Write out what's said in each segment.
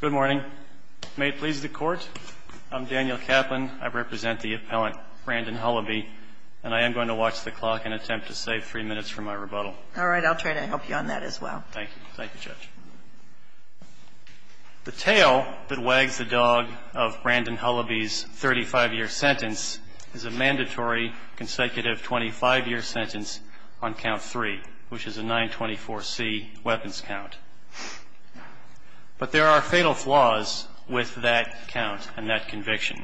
Good morning. May it please the Court, I'm Daniel Kaplan. I represent the appellant Brandon Hullaby, and I am going to watch the clock and attempt to save three minutes from my rebuttal. All right. I'll try to help you on that as well. Thank you. Thank you, Judge. The tale that wags the dog of Brandon Hullaby's 35-year sentence is a mandatory consecutive 25-year sentence on count 3, which is a 924C weapons count. But there are fatal flaws with that count and that conviction,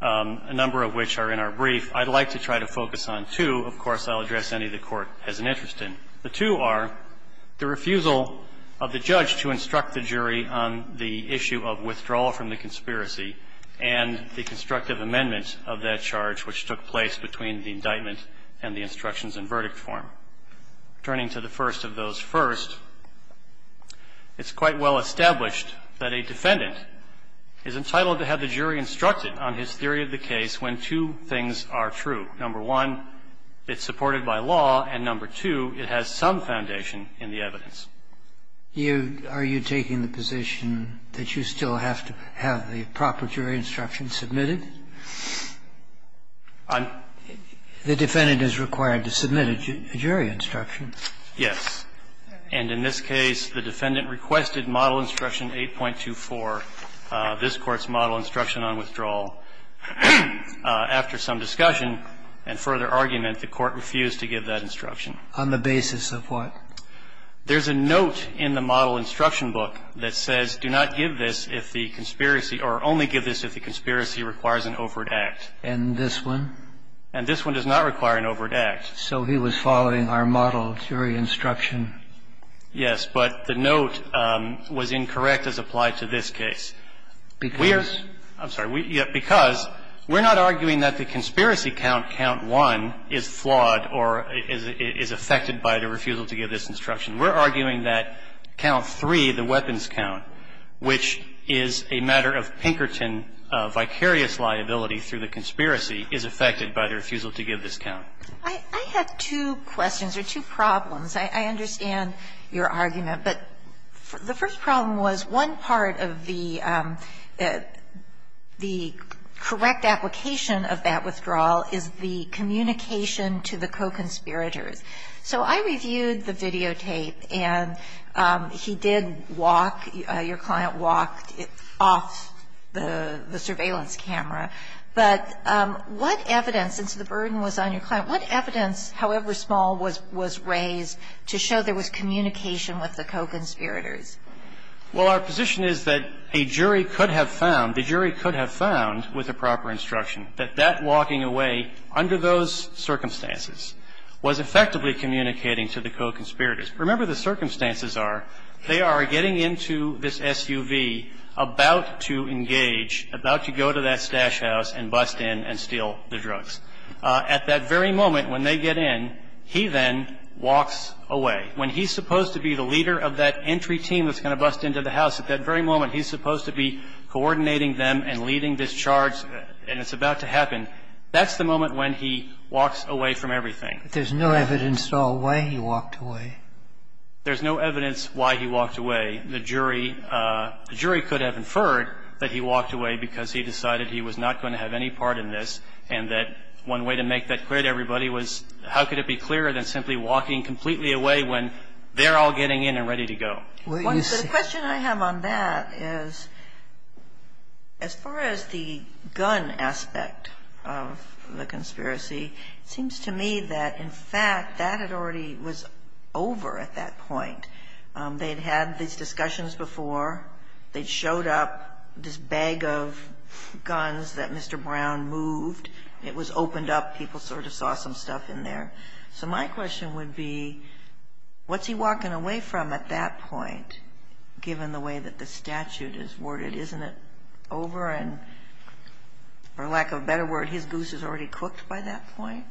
a number of which are in our brief. I'd like to try to focus on two. Of course, I'll address any the Court has an interest in. The two are the refusal of the judge to instruct the jury on the issue of withdrawal from the conspiracy and the constructive amendment of that charge, which took place between the indictment and the instructions and verdict form. Turning to the first of those first, it's quite well established that a defendant is entitled to have the jury instructed on his theory of the case when two things are true. Number one, it's supported by law, and number two, it has some foundation in the evidence. You are you taking the position that you still have to have the proper jury instruction submitted? I'm The defendant is required to submit a jury instruction. Yes. And in this case, the defendant requested Model Instruction 8.24, this Court's Model Instruction on Withdrawal. After some discussion and further argument, the Court refused to give that instruction. On the basis of what? There's a note in the Model Instruction book that says, do not give this if the conspiracy or only give this if the conspiracy requires an overt act. And this one? And this one does not require an overt act. So he was following our Model Jury Instruction? Yes. But the note was incorrect as applied to this case. Because? I'm sorry. Because we're not arguing that the conspiracy count, count 1, is flawed or is affected by the refusal to give this instruction. We're arguing that count 3, the weapons count, which is a matter of Pinkerton vicarious liability through the conspiracy, is affected by the refusal to give this count. I have two questions or two problems. I understand your argument. But the first problem was one part of the correct application of that withdrawal is the communication to the co-conspirators. So I reviewed the videotape, and he did walk, your client walked off the videotape and walked off the surveillance camera. But what evidence, since the burden was on your client, what evidence, however small, was raised to show there was communication with the co-conspirators? Well, our position is that a jury could have found, the jury could have found with the proper instruction, that that walking away under those circumstances was effectively communicating to the co-conspirators. Remember, the circumstances are, they are getting into this SUV, about to engage, about to go to that stash house and bust in and steal the drugs. At that very moment, when they get in, he then walks away. When he's supposed to be the leader of that entry team that's going to bust into the house, at that very moment, he's supposed to be coordinating them and leading this charge, and it's about to happen. That's the moment when he walks away from everything. But there's no evidence to all the way he walked away. There's no evidence why he walked away. The jury, the jury could have inferred that he walked away because he decided he was not going to have any part in this and that one way to make that clear to everybody was how could it be clearer than simply walking completely away when they're all getting in and ready to go. Well, you see. The question I have on that is, as far as the gun aspect of the conspiracy, it seems to me that, in fact, that had already was over at that point. They had had these discussions before. They'd showed up, this bag of guns that Mr. Brown moved. It was opened up. People sort of saw some stuff in there. So my question would be, what's he walking away from at that point, given the way that the statute is worded? Isn't it over and, for lack of a better word, his goose is already cooked by that point?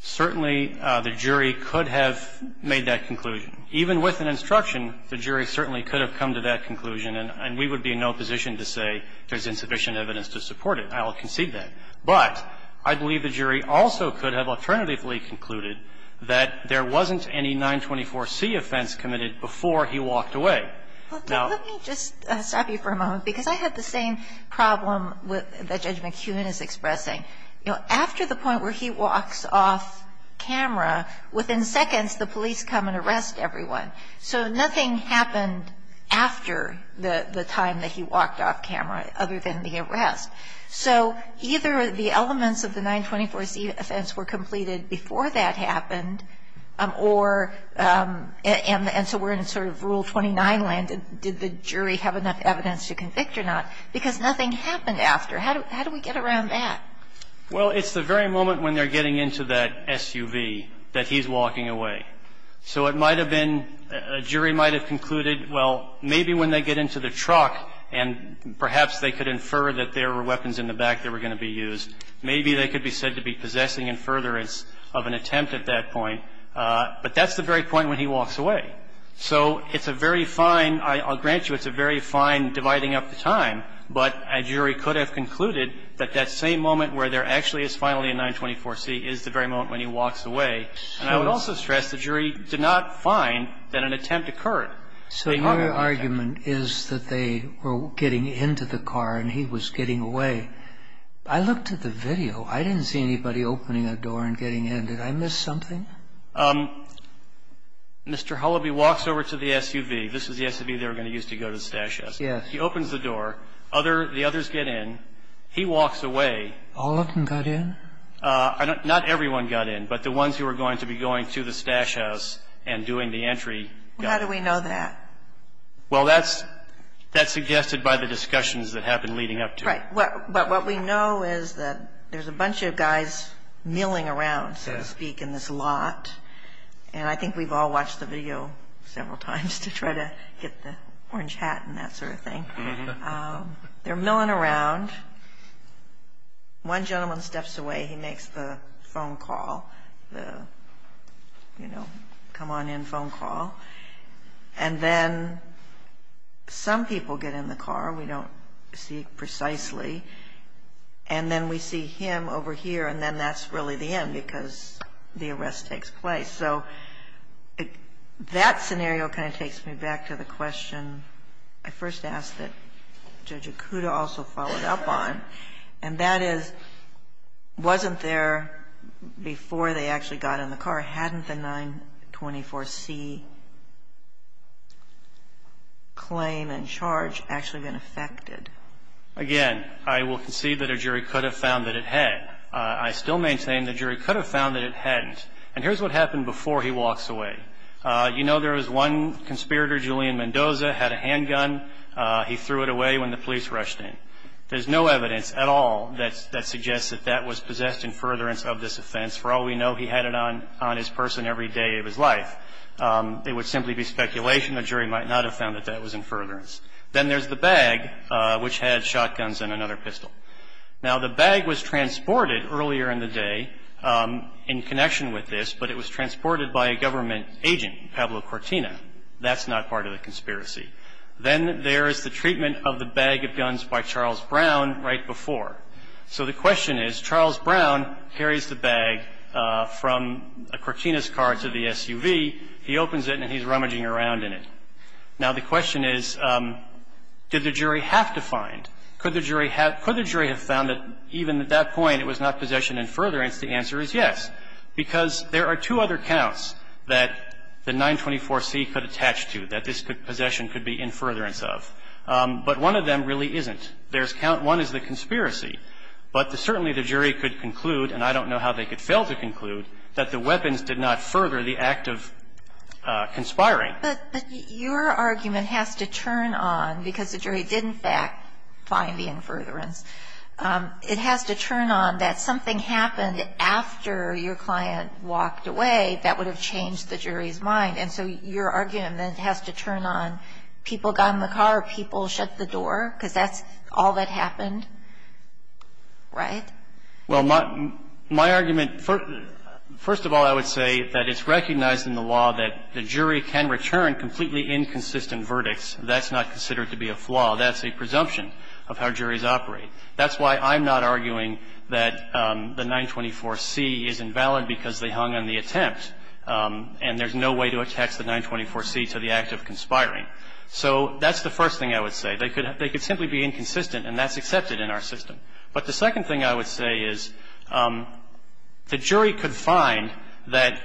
Certainly, the jury could have made that conclusion. Even with an instruction, the jury certainly could have come to that conclusion and we would be in no position to say there's insufficient evidence to support it. I'll concede that. But I believe the jury also could have alternatively concluded that there wasn't any 924C offense committed before he walked away. Now let me just stop you for a moment because I have the same problem that Judge McKeown is expressing. After the point where he walks off camera, within seconds the police come and arrest everyone. So nothing happened after the time that he walked off camera other than the arrest. So either the elements of the 924C offense were completed before that happened or and so we're in sort of Rule 29 land, did the jury have enough evidence to convict or not, because nothing happened after. How do we get around that? Well, it's the very moment when they're getting into that SUV that he's walking away. So it might have been, a jury might have concluded, well, maybe when they get into the truck and perhaps they could infer that there were weapons in the back that were going to be used, maybe they could be said to be possessing in furtherance of an attempt at that point. But that's the very point when he walks away. So it's a very fine, I'll grant you it's a very fine dividing up the time, but a jury could have concluded that that same moment where there actually is finally a 924C is the very moment when he walks away. And I would also stress the jury did not find that an attempt occurred. So your argument is that they were getting into the car and he was getting away. I looked at the video. I didn't see anybody opening a door and getting in. Did I miss something? Mr. Hullaby walks over to the SUV. This is the SUV they were going to use to go to the stash house. Yes. He opens the door. The others get in. He walks away. All of them got in? Not everyone got in, but the ones who were going to be going to the stash house and doing the entry got in. How do we know that? Well, that's suggested by the discussions that happened leading up to it. Right. But what we know is that there's a bunch of guys milling around, so to speak, in this lot. And I think we've all watched the video several times to try to get the orange hat and that sort of thing. They're milling around. One gentleman steps away. He makes the phone call, the, you know, come on in phone call. And then some people get in the car. We don't see precisely. And then we see him over here. And then that's really the end because the arrest takes place. So that scenario kind of takes me back to the question I first asked that Judge Akuta also followed up on, and that is, wasn't there before they actually got in the car, hadn't the 924C claim and charge actually been affected? Again, I will concede that a jury could have found that it had. I still maintain the jury could have found that it hadn't. And here's what happened before he walks away. You know, there was one conspirator, Julian Mendoza, had a handgun. He threw it away when the police rushed in. There's no evidence at all that suggests that that was possessed in furtherance of this offense. For all we know, he had it on his person every day of his life. It would simply be speculation. A jury might not have found that that was in furtherance. Then there's the bag, which had shotguns and another pistol. Now, the bag was transported earlier in the day in connection with this, but it was transported by a government agent, Pablo Cortina. That's not part of the conspiracy. Then there is the treatment of the bag of guns by Charles Brown right before. So the question is, Charles Brown carries the bag from Cortina's car to the SUV. He opens it, and he's rummaging around in it. Now, the question is, did the jury have to find? Could the jury have found that even at that point it was not possession in furtherance? The answer is yes, because there are two other counts that the 924C could attach to, that this possession could be in furtherance of. But one of them really isn't. There's count one is the conspiracy. But certainly the jury could conclude, and I don't know how they could fail to conclude, that the weapons did not further the act of conspiring. But your argument has to turn on, because the jury did, in fact, find the in furtherance, it has to turn on that something happened after your client walked away that would have changed the jury's mind. And so your argument has to turn on people got in the car, people shut the door, because that's all that happened, right? Well, my argument, first of all, I would say that it's recognized in the law that the jury can return completely inconsistent verdicts. That's not considered to be a flaw. That's a presumption of how juries operate. That's why I'm not arguing that the 924C is invalid because they hung on the attempt. And there's no way to attach the 924C to the act of conspiring. So that's the first thing I would say. They could simply be inconsistent, and that's accepted in our system. But the second thing I would say is the jury could find that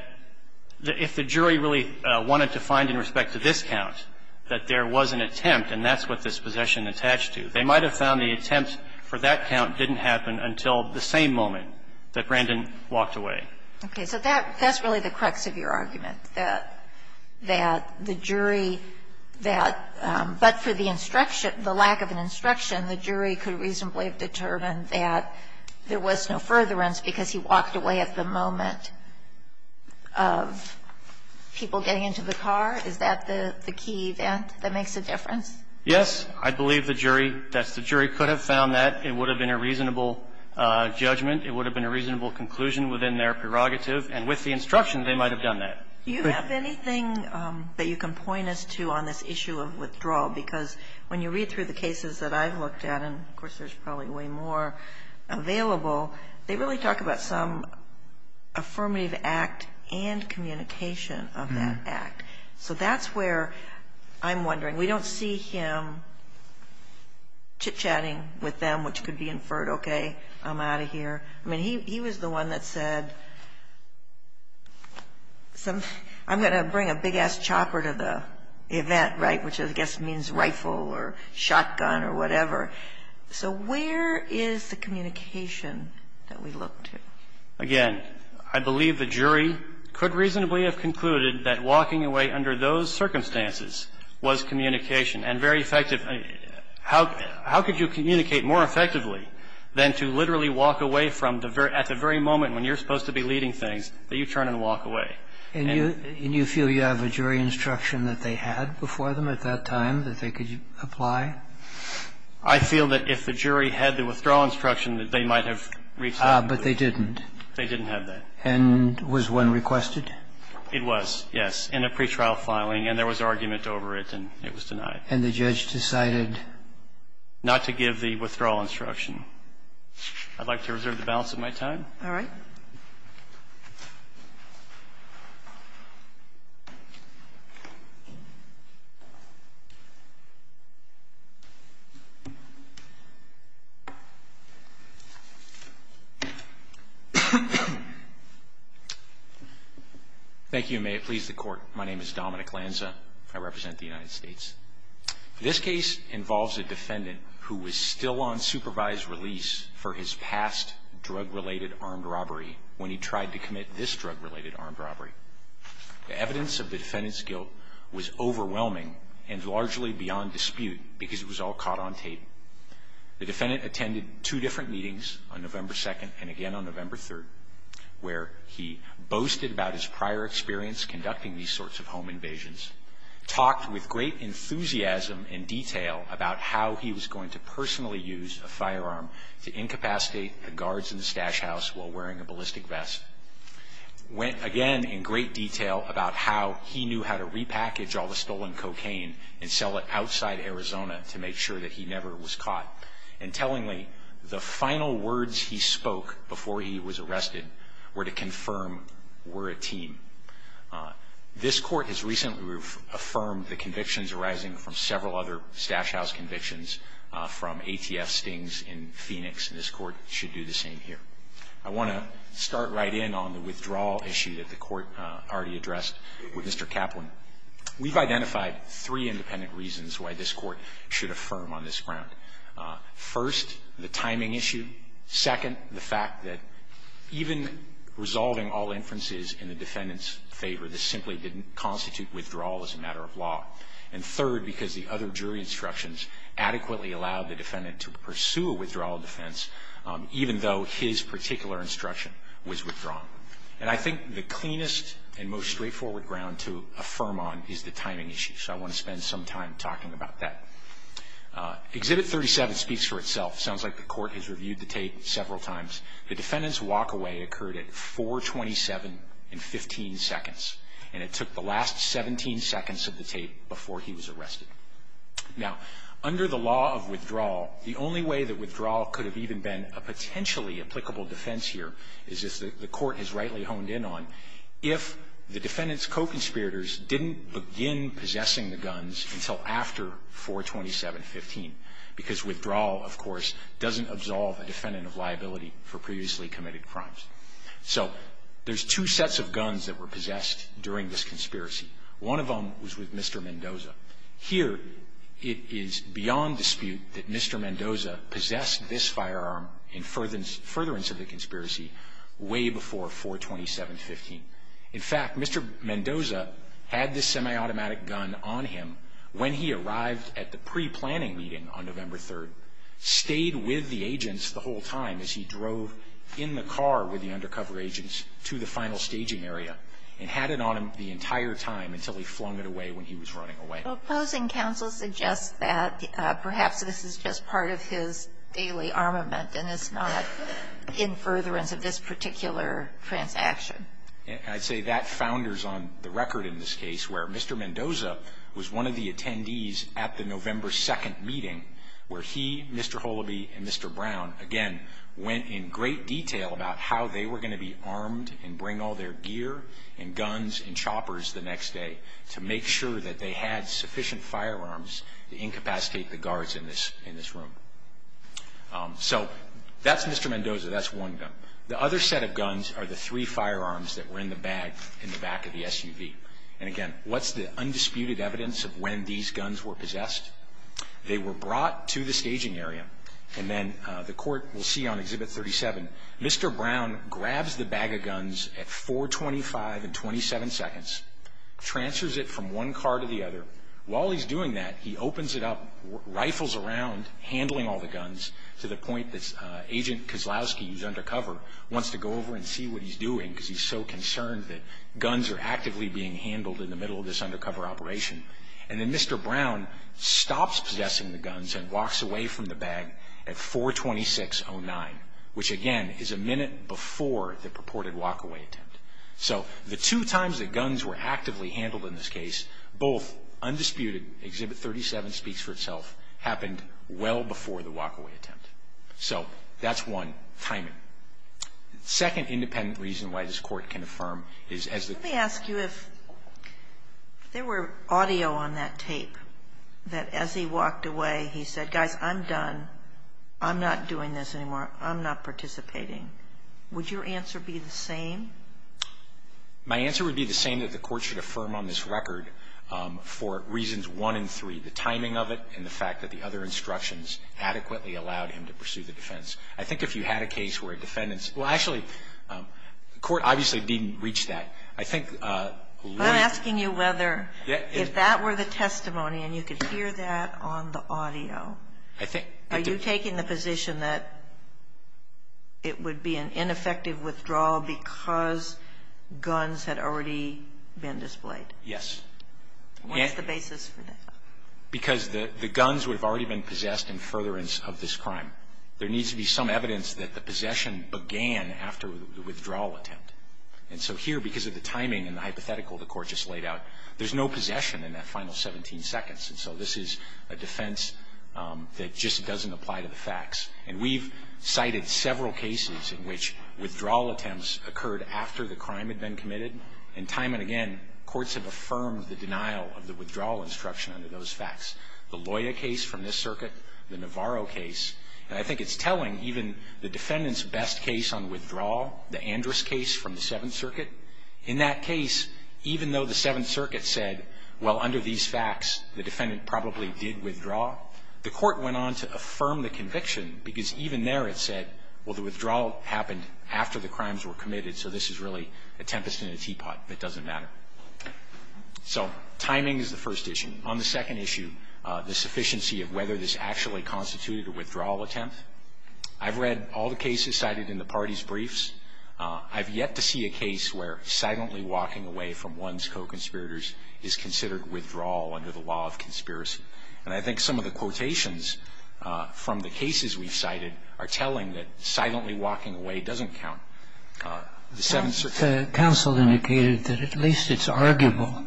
if the jury really wanted to find in respect to this count that there was an attempt, and that's what this possession attached to, they might have found the attempt for that count didn't happen until the same moment that Brandon walked away. Okay. So that's really the crux of your argument, that the jury, that, but for the instruction, the lack of an instruction, the jury could reasonably have determined that there was no furtherance because he walked away at the moment of people getting into the car? Is that the key event that makes a difference? Yes. I believe the jury, that's the jury, could have found that. It would have been a reasonable judgment. It would have been a reasonable conclusion within their prerogative. And with the instruction, they might have done that. Do you have anything that you can point us to on this issue of withdrawal? Because when you read through the cases that I've looked at, and of course, there's probably way more available, they really talk about some affirmative act and communication of that act. So that's where I'm wondering. We don't see him chit-chatting with them, which could be inferred, okay, I'm out of here. I mean, he was the one that said, I'm going to bring a big-ass chopper to the event, right, which I guess means rifle or shotgun or whatever. So where is the communication that we look to? Again, I believe the jury could reasonably have concluded that walking away under those circumstances was communication and very effective. How could you communicate more effectively than to literally walk away from the very at the very moment when you're supposed to be leading things that you turn and walk away? And you feel you have a jury instruction that they had before them at that time that they could apply? I feel that if the jury had the withdrawal instruction that they might have reached that conclusion. But they didn't? They didn't have that. And was one requested? It was, yes, in a pretrial filing, and there was argument over it, and it was denied. And the judge decided? Not to give the withdrawal instruction. I'd like to reserve the balance of my time. All right. Thank you, and may it please the court. My name is Dominic Lanza. I represent the United States. This case involves a defendant who was still on supervised release for his past drug-related armed robbery when he tried to commit this drug-related armed robbery. The evidence of the defendant's guilt was overwhelming and largely beyond dispute because it was all caught on tape. The defendant attended two different meetings on November 2nd and again on November 3rd, where he boasted about his prior experience conducting these sorts of home invasions, talked with great enthusiasm and guards in the stash house while wearing a ballistic vest, went again in great detail about how he knew how to repackage all the stolen cocaine and sell it outside Arizona to make sure that he never was caught. And tellingly, the final words he spoke before he was arrested were to confirm we're a team. This court has recently affirmed the convictions arising from several other I want to start right in on the withdrawal issue that the Court already addressed with Mr. Kaplan. We've identified three independent reasons why this Court should affirm on this ground. First, the timing issue. Second, the fact that even resolving all inferences in the defendant's favor, this simply didn't constitute withdrawal as a matter of law. And third, because the other jury instructions adequately allowed the defendant to pursue a withdrawal defense, even though his particular instruction was withdrawn. And I think the cleanest and most straightforward ground to affirm on is the timing issue, so I want to spend some time talking about that. Exhibit 37 speaks for itself. Sounds like the Court has reviewed the tape several times. The defendant's walk away occurred at 4.27 and 15 seconds. And it took the last 17 seconds of the tape before he was arrested. Now, under the law of withdrawal, the only way that withdrawal could have even been a potentially applicable defense here is, as the Court has rightly honed in on, if the defendant's co-conspirators didn't begin possessing the guns until after 4.27.15. Because withdrawal, of course, doesn't absolve a defendant of liability for previously committed crimes. So there's two sets of guns that were possessed during this conspiracy. One of them was with Mr. Mendoza. Here, it is beyond dispute that Mr. Mendoza possessed this firearm in furtherance of the conspiracy way before 4.27.15. In fact, Mr. Mendoza had this semi-automatic gun on him when he arrived at the pre-planning meeting on November 3rd. Stayed with the agents the whole time as he drove in the car with the undercover agents to the final staging area and had it on him the entire time until he flung it away when he was running away. The opposing counsel suggests that perhaps this is just part of his daily armament and it's not in furtherance of this particular transaction. I'd say that founders on the record in this case where Mr. Mendoza was one of the attendees at the November 2nd meeting where he, Mr. Holoby, and Mr. Brown, again, went in great detail about how they were going to be armed and bring all their gear and guns and choppers the next day to make sure that they had sufficient firearms to incapacitate the guards in this room. So, that's Mr. Mendoza, that's one gun. The other set of guns are the three firearms that were in the bag in the back of the SUV. And again, what's the undisputed evidence of when these guns were possessed? They were brought to the staging area and then the court will see on Exhibit 37, Mr. Brown grabs the bag of guns at 425 and 27 seconds, transfers it from one car to the other. While he's doing that, he opens it up, rifles around, handling all the guns to the point that Agent Kozlowski, who's undercover, wants to go over and see what he's doing because he's so concerned that guns are actively being handled in the middle of this undercover operation. And then Mr. Brown stops possessing the guns and walks away from the bag at 42609, which again is a minute before the purported walk-away attempt. So, the two times that guns were actively handled in this case, both undisputed, Exhibit 37 speaks for itself, happened well before the walk-away attempt. So, that's one, timing. Second independent reason why this court can affirm is as the- Let me ask you if there were audio on that tape that as he walked away, he said, guys, I'm done, I'm not doing this anymore, I'm not participating, would your answer be the same? My answer would be the same that the court should affirm on this record for reasons one and three, the timing of it and the fact that the other instructions adequately allowed him to pursue the defense. I think if you had a case where defendants, well, actually, the court obviously didn't reach that. I think- I'm asking you whether, if that were the testimony and you could hear that on the audio- I think- Are you taking the position that it would be an ineffective withdrawal because guns had already been displayed? Yes. What's the basis for that? Because the guns would have already been possessed in furtherance of this crime. There needs to be some evidence that the possession began after the withdrawal attempt. And so here, because of the timing and the hypothetical the court just laid out, there's no possession in that final 17 seconds. And so this is a defense that just doesn't apply to the facts. And we've cited several cases in which withdrawal attempts occurred after the crime had been committed. And time and again, courts have affirmed the denial of the withdrawal instruction under those facts. The Loya case from this circuit, the Navarro case, and I think it's telling even the defendant's best case on withdrawal, the Andrus case from the Seventh Circuit. In that case, even though the Seventh Circuit said, well, under these facts, the defendant probably did withdraw, the court went on to affirm the conviction because even there it said, well, the withdrawal happened after the crimes were committed. So this is really a tempest in a teapot. It doesn't matter. So timing is the first issue. On the second issue, the sufficiency of whether this actually constituted a withdrawal attempt. I've read all the cases cited in the parties' briefs. I've yet to see a case where silently walking away from one's co-conspirators is considered withdrawal under the law of conspiracy. And I think some of the quotations from the cases we've cited are telling that silently walking away doesn't count. The Seventh Circuit. Counsel indicated that at least it's arguable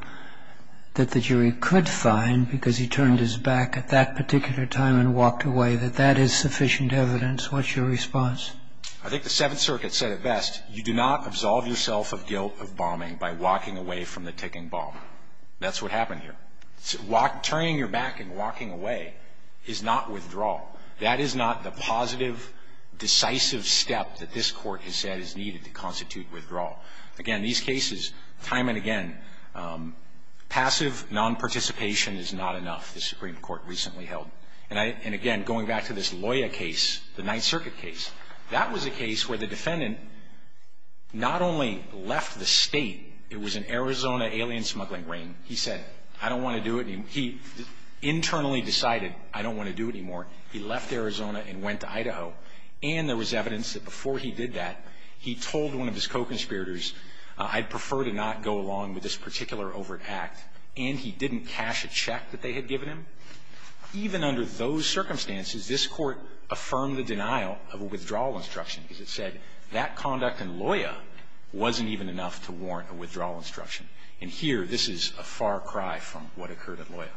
that the jury could find, because he turned his back at that particular time and walked away, that that is sufficient evidence. What's your response? I think the Seventh Circuit said it best. You do not absolve yourself of guilt of bombing by walking away from the ticking bomb. That's what happened here. Turning your back and walking away is not withdrawal. That is not the positive, decisive step that this court has said is needed to constitute withdrawal. Again, these cases, time and again, passive non-participation is not enough, the Supreme Court recently held. And again, going back to this Loya case, the Ninth Circuit case, that was a case where the defendant not only left the state, it was an Arizona alien smuggling ring, he said, I don't want to do it. He internally decided, I don't want to do it anymore. He left Arizona and went to Idaho. And there was evidence that before he did that, he told one of his co-conspirators, I'd prefer to not go along with this particular overt act, and he didn't cash a check that they had given him. Even under those circumstances, this Court affirmed the denial of a withdrawal instruction, because it said that conduct in Loya wasn't even enough to warrant a withdrawal instruction. And here, this is a far cry from what occurred at Loya.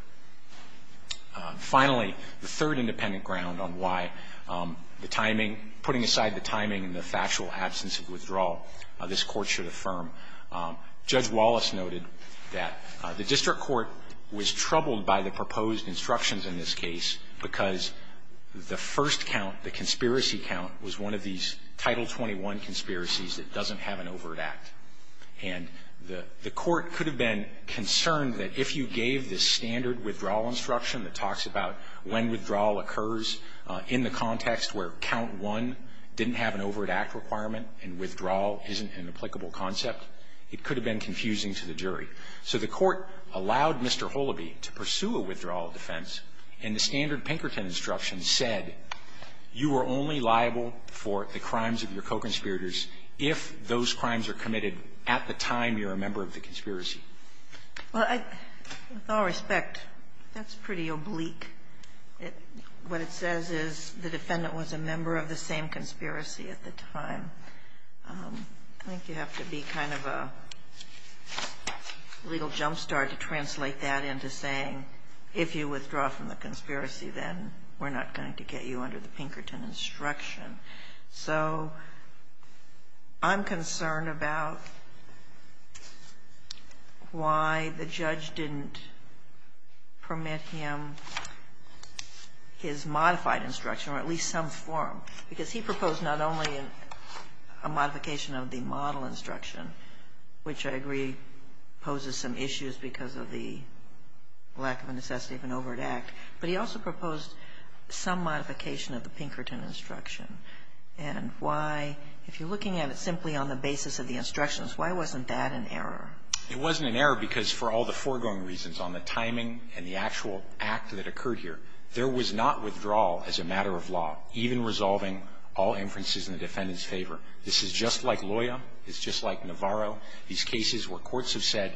Finally, the third independent ground on why the timing, putting aside the timing and the factual absence of withdrawal, this Court should affirm. Judge Wallace noted that the district court was troubled by the proposed instructions in this case, because the first count, the conspiracy count, was one of these Title 21 conspiracies that doesn't have an overt act. And the court could have been concerned that if you gave the standard withdrawal instruction that talks about when withdrawal occurs in the context where count one didn't have an overt act requirement, and withdrawal isn't an applicable concept, it could have been confusing to the jury. So the court allowed Mr. Holoby to pursue a withdrawal defense, and the standard Pinkerton instruction said, you are only liable for the crimes of your co-conspirators if those crimes are committed at the time you're a member of the conspiracy. Well, I – with all respect, that's pretty oblique. It – what it says is the defendant was a member of the same conspiracy at the time. I think you have to be kind of a legal jumpstart to translate that into saying, if you withdraw from the conspiracy, then we're not going to get you under the Pinkerton instruction. So I'm concerned about why the judge didn't permit him his modified instruction, or at least some form. Because he proposed not only a modification of the model instruction, which I agree poses some issues because of the lack of necessity of an overt act, but he also proposed some modification of the Pinkerton instruction. And why – if you're looking at it simply on the basis of the instructions, why wasn't that an error? It wasn't an error because for all the foregoing reasons on the timing and the actual act that occurred here, there was not withdrawal as a matter of law, even resolving all inferences in the defendant's favor. This is just like Loya. It's just like Navarro. These cases where courts have said,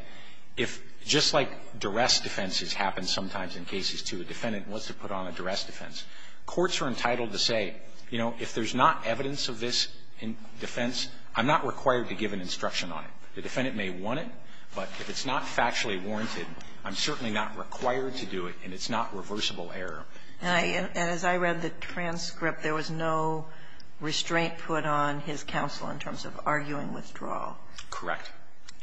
if – just like duress defense has happened sometimes in cases to a defendant and wants to put on a duress defense, courts are entitled to say, you know, if there's not evidence of this defense, I'm not required to give an instruction on it. The defendant may want it, but if it's not factually warranted, I'm certainly not required to do it, and it's not reversible error. And I – and as I read the transcript, there was no restraint put on his counsel in terms of arguing withdrawal. Correct.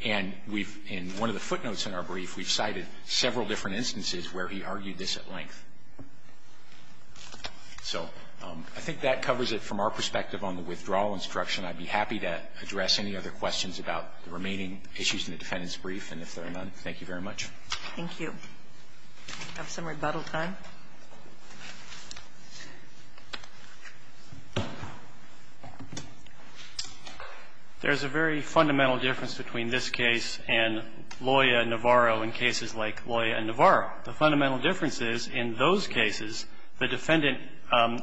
And we've – in one of the footnotes in our brief, we've cited several different instances where he argued this at length. So I think that covers it from our perspective on the withdrawal instruction. I'd be happy to address any other questions about the remaining issues in the defendant's brief, and if there are none, thank you very much. Thank you. Do we have some rebuttal time? There's a very fundamental difference between this case and Loya and Navarro and cases like Loya and Navarro. The fundamental difference is, in those cases, the defendant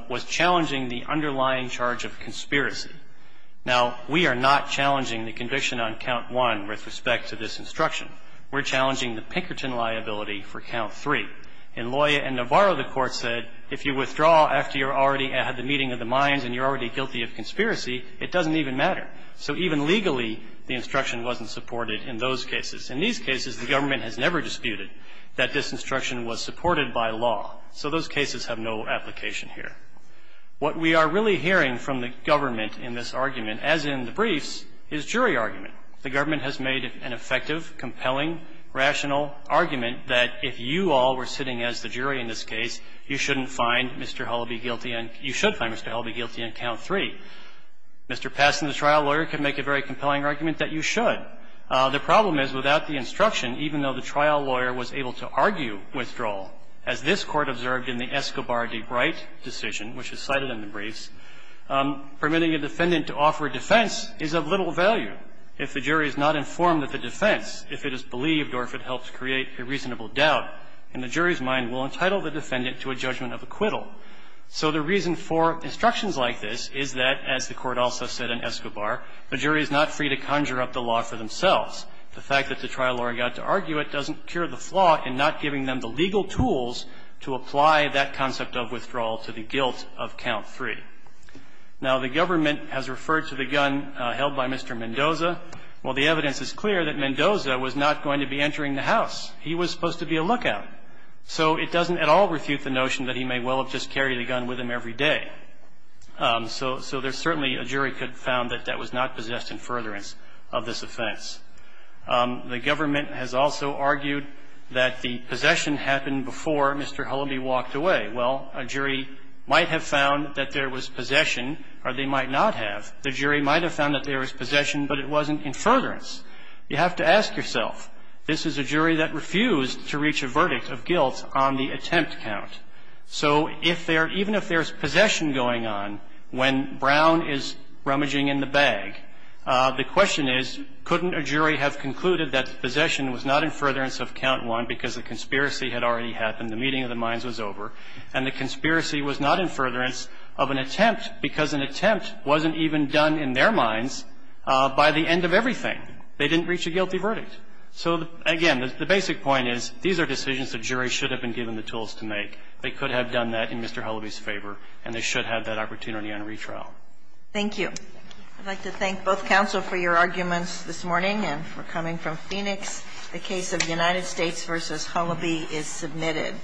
was challenging the underlying charge of conspiracy. Now, we are not challenging the conviction on count one with respect to this instruction. We're challenging the Pinkerton liability for count three. In Loya and Navarro, the court said, if you withdraw after you're already at the meeting of the minds and you're already guilty of conspiracy, it doesn't even matter. So even legally, the instruction wasn't supported in those cases. In these cases, the government has never disputed that this instruction was supported by law. So those cases have no application here. What we are really hearing from the government in this argument, as in the briefs, is jury argument. The government has made an effective, compelling, rational argument that if you all were sitting as the jury in this case, you shouldn't find Mr. Hullaby guilty and you should find Mr. Hullaby guilty on count three. Mr. Peston, the trial lawyer, can make a very compelling argument that you should. The problem is, without the instruction, even though the trial lawyer was able to argue withdrawal, as this Court observed in the Escobar v. Wright decision, which is cited in the briefs, permitting a defendant to offer defense is of little value. If the jury is not informed of the defense, if it is believed or if it helps create a reasonable doubt, then the jury's mind will entitle the defendant to a judgment of acquittal. So the reason for instructions like this is that, as the Court also said in Escobar, the jury is not free to conjure up the law for themselves. The fact that the trial lawyer got to argue it doesn't cure the flaw in not giving them the legal tools to apply that concept of withdrawal to the guilt of count three. Now, the government has referred to the gun held by Mr. Mendoza. Well, the evidence is clear that Mendoza was not going to be entering the house. He was supposed to be a lookout. So it doesn't at all refute the notion that he may well have just carried the gun with him every day. So there's certainly a jury could have found that that was not possessed in furtherance of this offense. The government has also argued that the possession happened before Mr. Hullaby walked away. Well, a jury might have found that there was possession, or they might not have. The jury might have found that there was possession, but it wasn't in furtherance. You have to ask yourself, this is a jury that refused to reach a verdict of guilt on the attempt count. So if there – even if there's possession going on when Brown is rummaging in the bag, the question is, couldn't a jury have concluded that the possession was not in furtherance of count one because the conspiracy had already happened, the meeting of the minds was over, and the conspiracy was not in furtherance of an attempt because an attempt wasn't even done in their minds by the end of everything. They didn't reach a guilty verdict. So, again, the basic point is, these are decisions the jury should have been given the tools to make. They could have done that in Mr. Hullaby's favor, and they should have that opportunity on retrial. Thank you. I'd like to thank both counsel for your arguments this morning and for coming from the standpoint that the United States v. Hullaby is submitted.